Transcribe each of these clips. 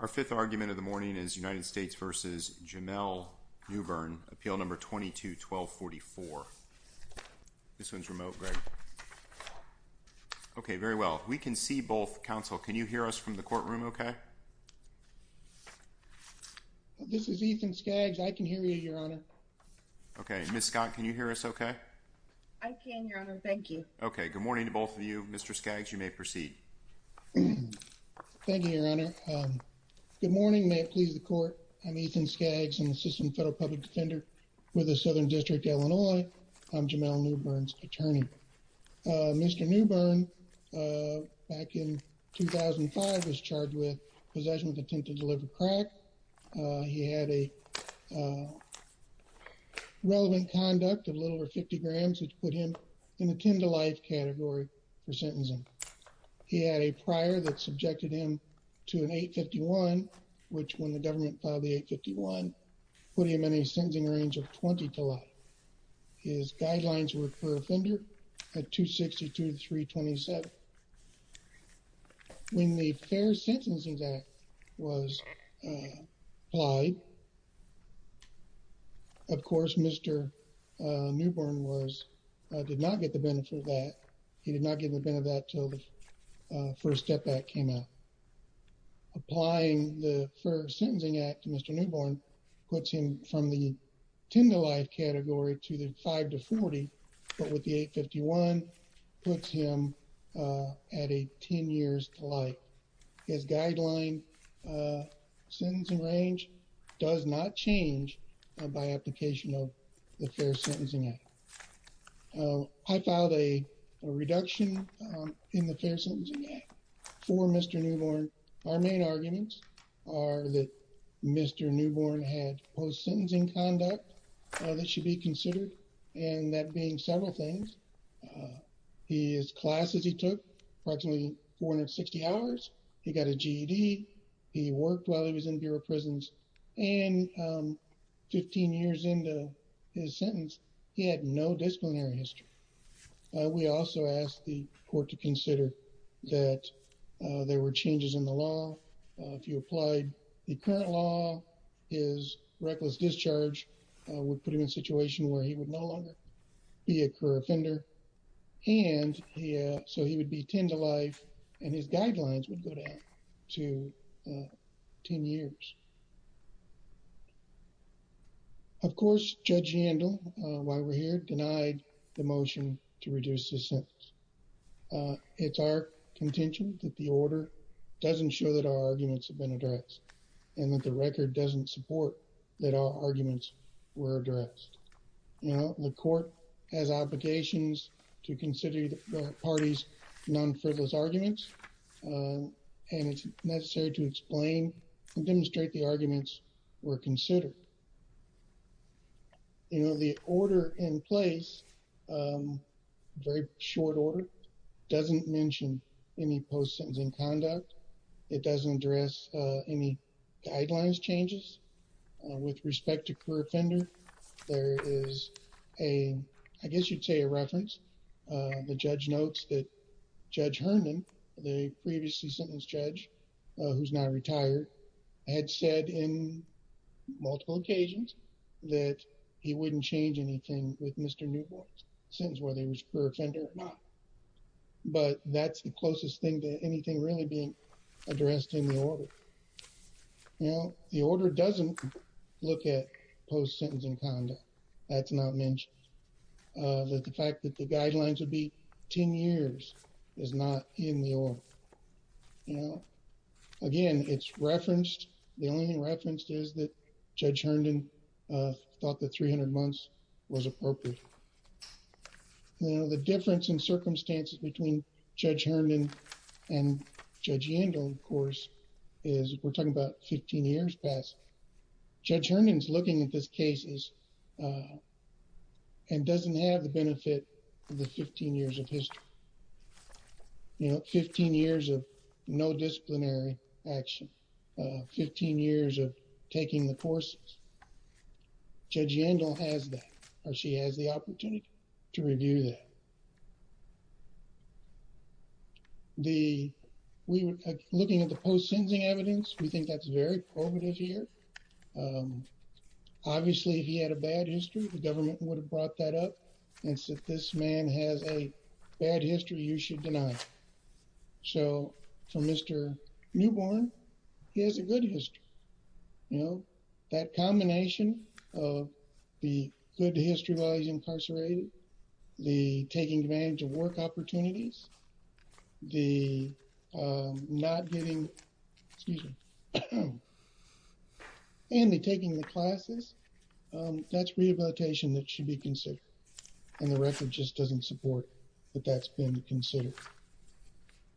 Our fifth argument of the morning is United States v. Jamell Newbern, appeal number 22-1244. This one's remote, Greg. Okay, very well. We can see both. Counsel, can you hear us from the courtroom okay? This is Ethan Skaggs. I can hear you, Your Honor. Okay. Ms. Scott, can you hear us okay? I can, Your Honor. Thank you. Okay. Good morning to both of you. Mr. Skaggs, you may proceed. Thank you, Your Honor. Good morning. May it please the court. I'm Ethan Skaggs, an assistant federal public defender with the Southern District of Illinois. I'm Jamell Newbern's attorney. Mr. Newbern, back in 2005, was charged with possession with intent to deliver crack. He had a relevant conduct of a little over 50 grams, which put him in the 10-to-life category for sentencing. He had a prior that subjected him to an 851, which when the government filed the 851, put him in a sentencing range of 20-to-life. His guidelines were per offender at 262-327. When the Fair Sentencing Act was applied, Mr. Newbern did not get the benefit of that. He did not get the benefit of that until the first step back came out. Applying the Fair Sentencing Act to Mr. Newbern puts him from the 10-to-life category to the 5-to-40, but with the 851, puts him at a 10-years-to-life. His guideline sentencing range does not change by application of the Fair Sentencing Act. I filed a reduction in the Fair Sentencing Act for Mr. Newbern. Our main arguments are that Mr. Newbern had post-sentencing conduct that should be considered, and that being several things. His classes he took, approximately 460 hours. He got a GED. He worked while he was in Bureau of Prisons, and 15 years into his sentence, he had no disciplinary history. We also asked the court to consider that there were changes in the law. If you applied the current law, his reckless discharge would put him in a situation where he would no longer be a career offender, and so he would be 10-to-life, and his guidelines would go down to 10 years. Of course, Judge Yandel, while we're here, denied the motion to reduce his sentence. It's our contention that the order doesn't show that our arguments have been addressed, and that the record doesn't support that our arguments were addressed. You know, the court has obligations to consider the parties' non-frivolous arguments, and it's necessary to explain and demonstrate the arguments were considered. You know, the order in place, um, very short order, doesn't mention any post-sentencing conduct. It doesn't address, uh, any guidelines changes. With respect to career offender, there is a, I guess you'd say a reference. Uh, the judge notes that Judge Herndon, the previously sentenced judge, uh, who's now sentenced, whether he was a career offender or not, but that's the closest thing to anything really being addressed in the order. You know, the order doesn't look at post-sentencing conduct. That's not mentioned. Uh, the fact that the guidelines would be 10 years is not in the order. You know, again, it's referenced. The only thing referenced is that Judge Herndon, uh, thought that 300 months was appropriate. You know, the difference in circumstances between Judge Herndon and Judge Yandel, of course, is we're talking about 15 years past. Judge Herndon's looking at this case as, uh, and doesn't have the benefit of the 15 years of history. You know, 15 years of no disciplinary action, uh, 15 years of taking the courses. Judge Yandel has that, or she has the opportunity to review that. The, we were looking at the post-sentencing evidence. We think that's very probative here. Obviously, if he had a bad history, the government would have brought that up and said, this man has a bad history you should deny. So, for Mr. Newborn, he has a good history. You know, that combination of the good history while he's incarcerated, the taking advantage of work opportunities, the, um, not getting, excuse me, and the taking the classes, um, that's rehabilitation that should be considered. And the record just doesn't support that that's been considered.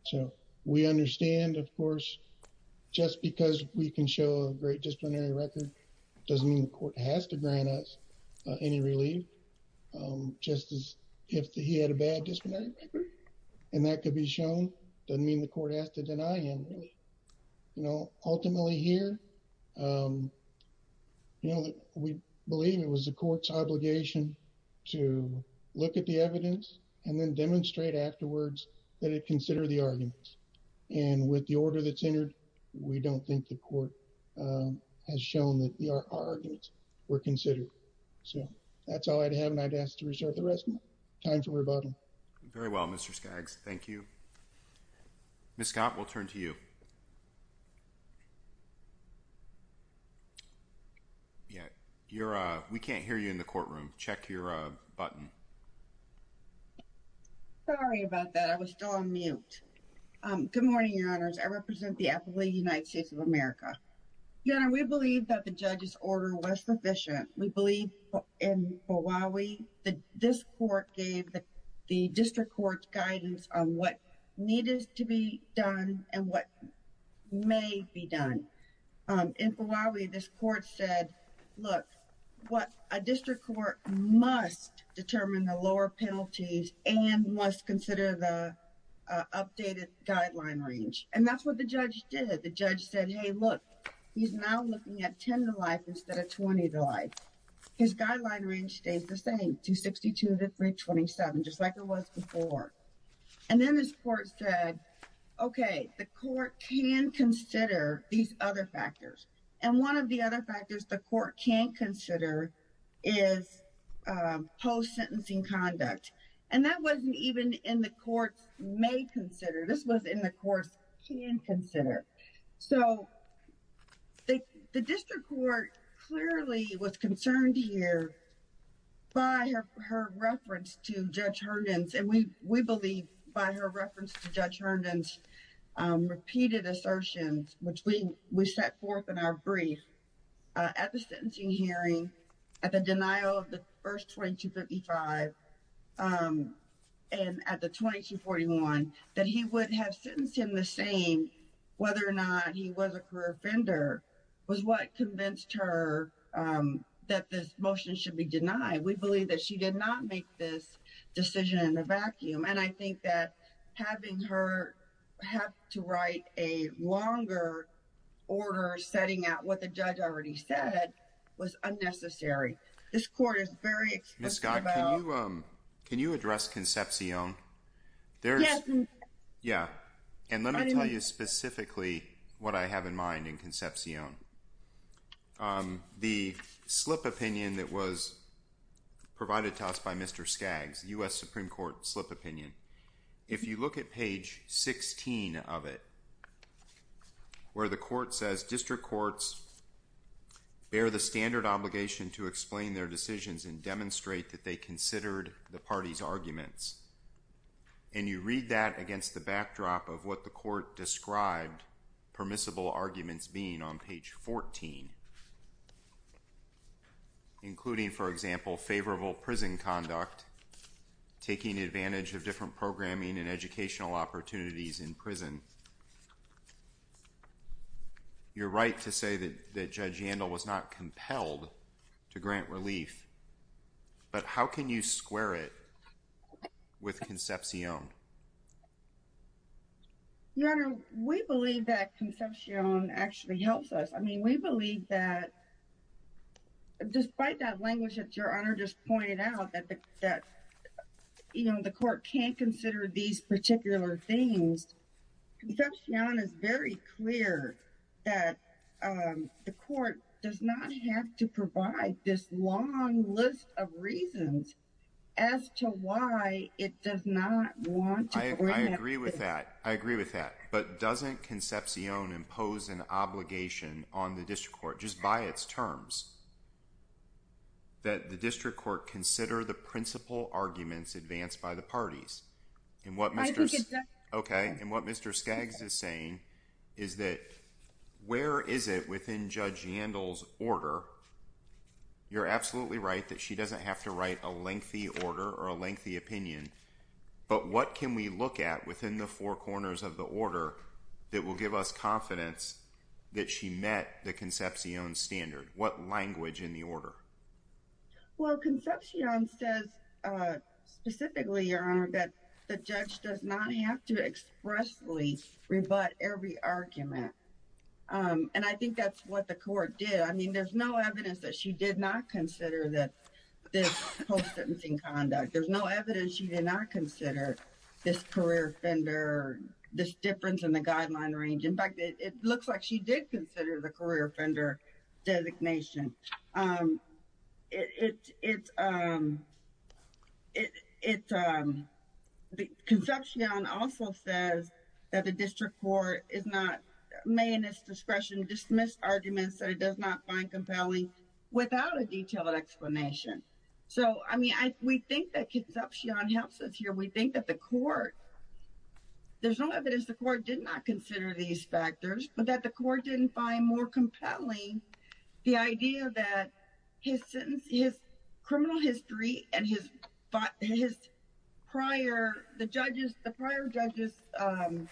So, we understand, of course, just because we can show a great disciplinary record doesn't mean the court has to grant us any relief. Um, just as if he had a bad disciplinary record and that could be shown, doesn't mean the court has to deny him, really. You know, ultimately here, um, you know, we believe it was the court's obligation to look at the evidence and then demonstrate afterwards that it considered the arguments. And with the order that's entered, we don't think the court, um, has shown that the arguments were considered. So, that's all I'd have and I'd ask to restart the rest of my time for rebuttal. Very well, Mr. Skaggs. Thank you. Ms. Scott, we'll turn to you. Yeah, you're, uh, we can't hear you in the courtroom. Check your, uh, button. Sorry about that. I was still on mute. Um, good morning, Your Honors. I represent the Appalachian United States of America. Your Honor, we believe that the judge's order was sufficient. We believe in Paula, we, that this court gave the district court's guidance on what needed to be done and what may be done. Um, in Paula, this court said, look, what a district court must determine the lower penalties and must consider the, uh, updated guideline range. And that's what the judge did. The judge said, hey, look, he's now looking at 10 to life instead of 20 to life. His guideline range stays the same, 262 to 327, just like it was before. And then this court said, okay, the court can consider these other factors. And one of the other factors the court can consider is, um, post sentencing conduct. And that wasn't even in the courts may consider. This was in the courts can consider. So the district court clearly was concerned here by her, her reference to Judge Herndon's. And we, we believe by her reference to Judge Herndon's, um, repeated assertions, which we, we set forth in our brief at the sentencing hearing at the denial of the first 2255, um, and at the 2241 that he would have sentenced him the same, whether or not he was a career offender was what convinced her, um, that this motion should be denied. We believe that she did not make this decision in a vacuum. And I think that having her have to write a longer order, setting out what the judge already said was unnecessary. This court is very, um, can you address Concepcion? Yeah. And let me tell you specifically what I have in mind in Concepcion. Um, the slip opinion that was provided to us by If you look at page 16 of it, where the court says district courts bear the standard obligation to explain their decisions and demonstrate that they considered the party's arguments. And you read that against the backdrop of what the court described permissible arguments being page 14, including, for example, favorable prison conduct, taking advantage of different programming and educational opportunities in prison. You're right to say that Judge Yandel was not compelled to grant relief, but how can you square it with Concepcion? Your Honor, we believe that Concepcion actually helps us. I mean, we believe that despite that language that your honor just pointed out that that, you know, the court can't consider these particular things. Concepcion is very clear that the court does not have to provide this long list of reasons as to why it does not want to. I agree with that. I agree with that. But doesn't Concepcion impose an obligation on the district court just by its terms that the district court consider the principal arguments advanced by the parties? And what okay. And what Mr. Skaggs is saying is that where is it within Judge Yandel's order? You're absolutely right that she doesn't have to write a lengthy order or a lengthy opinion. But what can we look at within the four corners of the order that will give us confidence that she met the Concepcion standard? What language in the order? Well, Concepcion says specifically, Your Honor, that the judge does not have to expressly rebut every argument. And I think that's what the court did. I mean, there's no evidence that she did not consider that this post sentencing conduct. There's no evidence she did not consider this career offender, this difference in the guideline range. In fact, it looks like she did consider the career offender designation. It's it's it's the Concepcion also says that the district court is not may in its discretion dismiss arguments that it does not find compelling without a detailed explanation. So, I mean, we think that Concepcion helps us here. We think that the court, there's no evidence the court did not consider these factors, but that the court didn't find more compelling the idea that his sentence, his criminal history and his prior, the judges, um,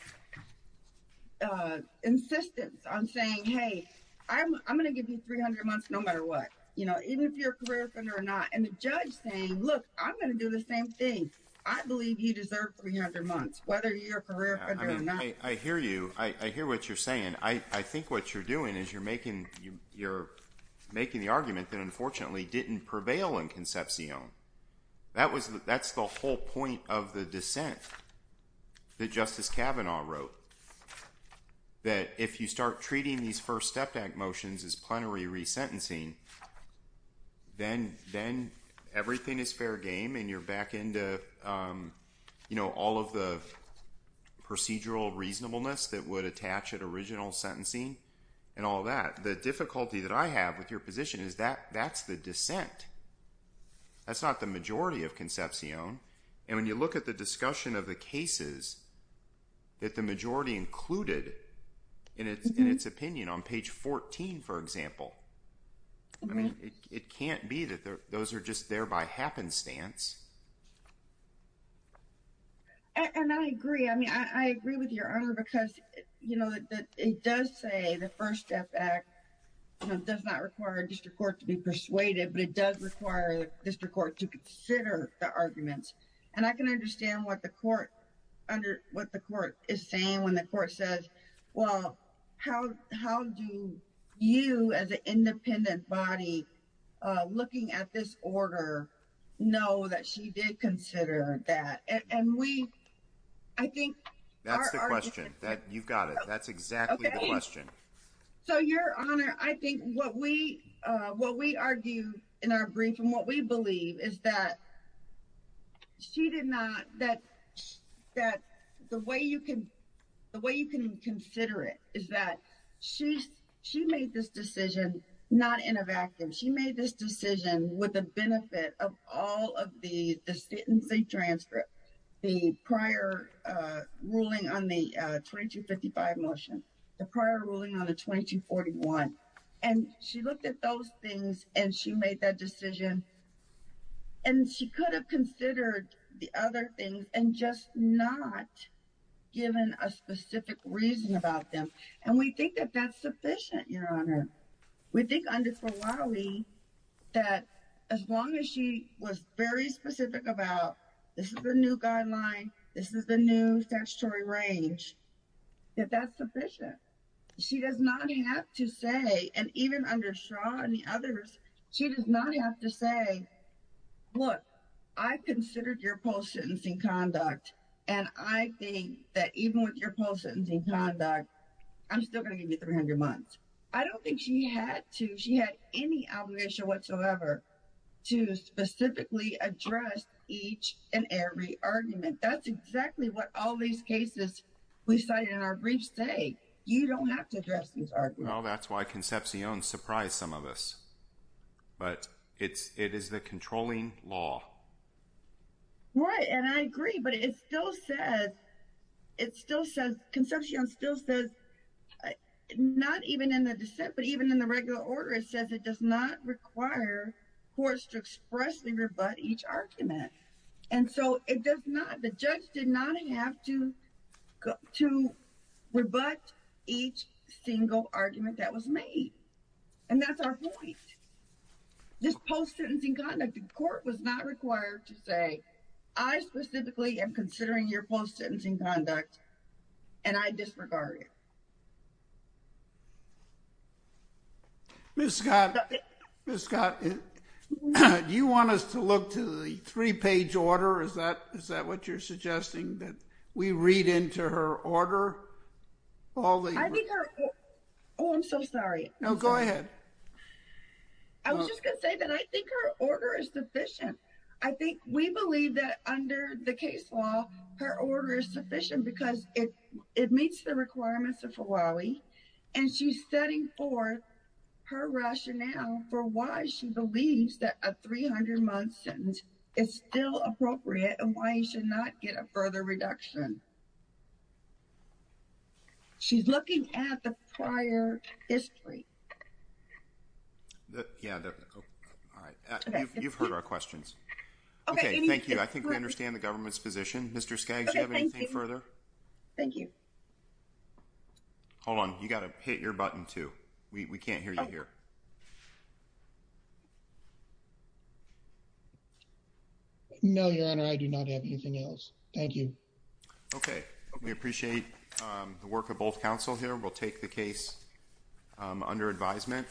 uh, insistence on saying, Hey, I'm, I'm going to give you 300 months no matter what, you know, even if you're a career offender or not. And the judge saying, look, I'm going to do the same thing. I believe you deserve 300 months, whether you're a career offender or not. I hear you. I hear what you're saying. I think what you're doing is you're making you you're making the argument that unfortunately didn't prevail in Concepcion. That was, that's the whole point of the dissent that Justice Kavanaugh wrote, that if you start treating these first step back motions as plenary resentencing, then then everything is fair game. And you're back into, um, you know, all of the procedural reasonableness that would attach at original sentencing and all that. The difficulty that I have with your position is that that's the descent. That's not the majority of Concepcion. And when you look at the discussion of the cases that the majority included in its, in its opinion on page 14, for example, I mean, it can't be that those are just there by happenstance. And I agree. I mean, I agree with your honor because, you know, it does say the first step does not require a district court to be persuaded, but it does require a district court to consider the arguments. And I can understand what the court under what the court is saying when the court says, well, how, how do you as an independent body looking at this order know that she did consider that? And we, I think that's the question that you've got it. That's exactly the question. So your honor, I think what we, uh, what we argue in our brief and what we believe is that she did not, that, that the way you can, the way you can consider it is that she's, she made this decision, not in a vacuum. She made this decision with the benefit of all of the, the state and state transcript, the prior, uh, ruling on the 2255 motion, the prior ruling on the 2241. And she looked at those things and she made that decision and she could have considered the other things and just not given a specific reason about them. And we think that that's about, this is the new guideline. This is the new statutory range that that's sufficient. She does not have to say, and even under Shaw and the others, she does not have to say, look, I've considered your post sentencing conduct. And I think that even with your post sentencing conduct, I'm still going to give you 300 months. I don't think she had to, to specifically address each and every argument. That's exactly what all these cases we cited in our brief say. You don't have to address these arguments. Well, that's why Concepcion surprised some of us, but it's, it is the controlling law. Right. And I agree, but it still says, it still says, Concepcion still says, not even in the dissent, but even in the regular order, it says it does not require courts to expressly rebut each argument. And so it does not, the judge did not have to, to rebut each single argument that was made. And that's our point. This post sentencing conduct, the court was not required to say, I specifically am considering your post sentencing conduct and I disregard it. Ms. Scott, Ms. Scott, do you want us to look to the three page order? Is that, is that what you're suggesting that we read into her order? Oh, I'm so sorry. No, go ahead. I was just going to say that I think her order is sufficient. I think we believe that under the case law, her order is sufficient because it, it meets the requirements of Hawaii and she's setting forth her rationale for why she believes that a 300 month sentence is still appropriate and why you should not get a further reduction. She's looking at the prior history. Yeah. All right. You've heard our questions. Okay. Thank you. I think we understand the government's position. Mr. Skaggs, you have anything further? Thank you. Hold on. You got to hit your button too. We can't hear you here. No, your Honor. I do not have anything else. Thank you. Okay. We appreciate the work of both counsel here. We'll take the case under advisement.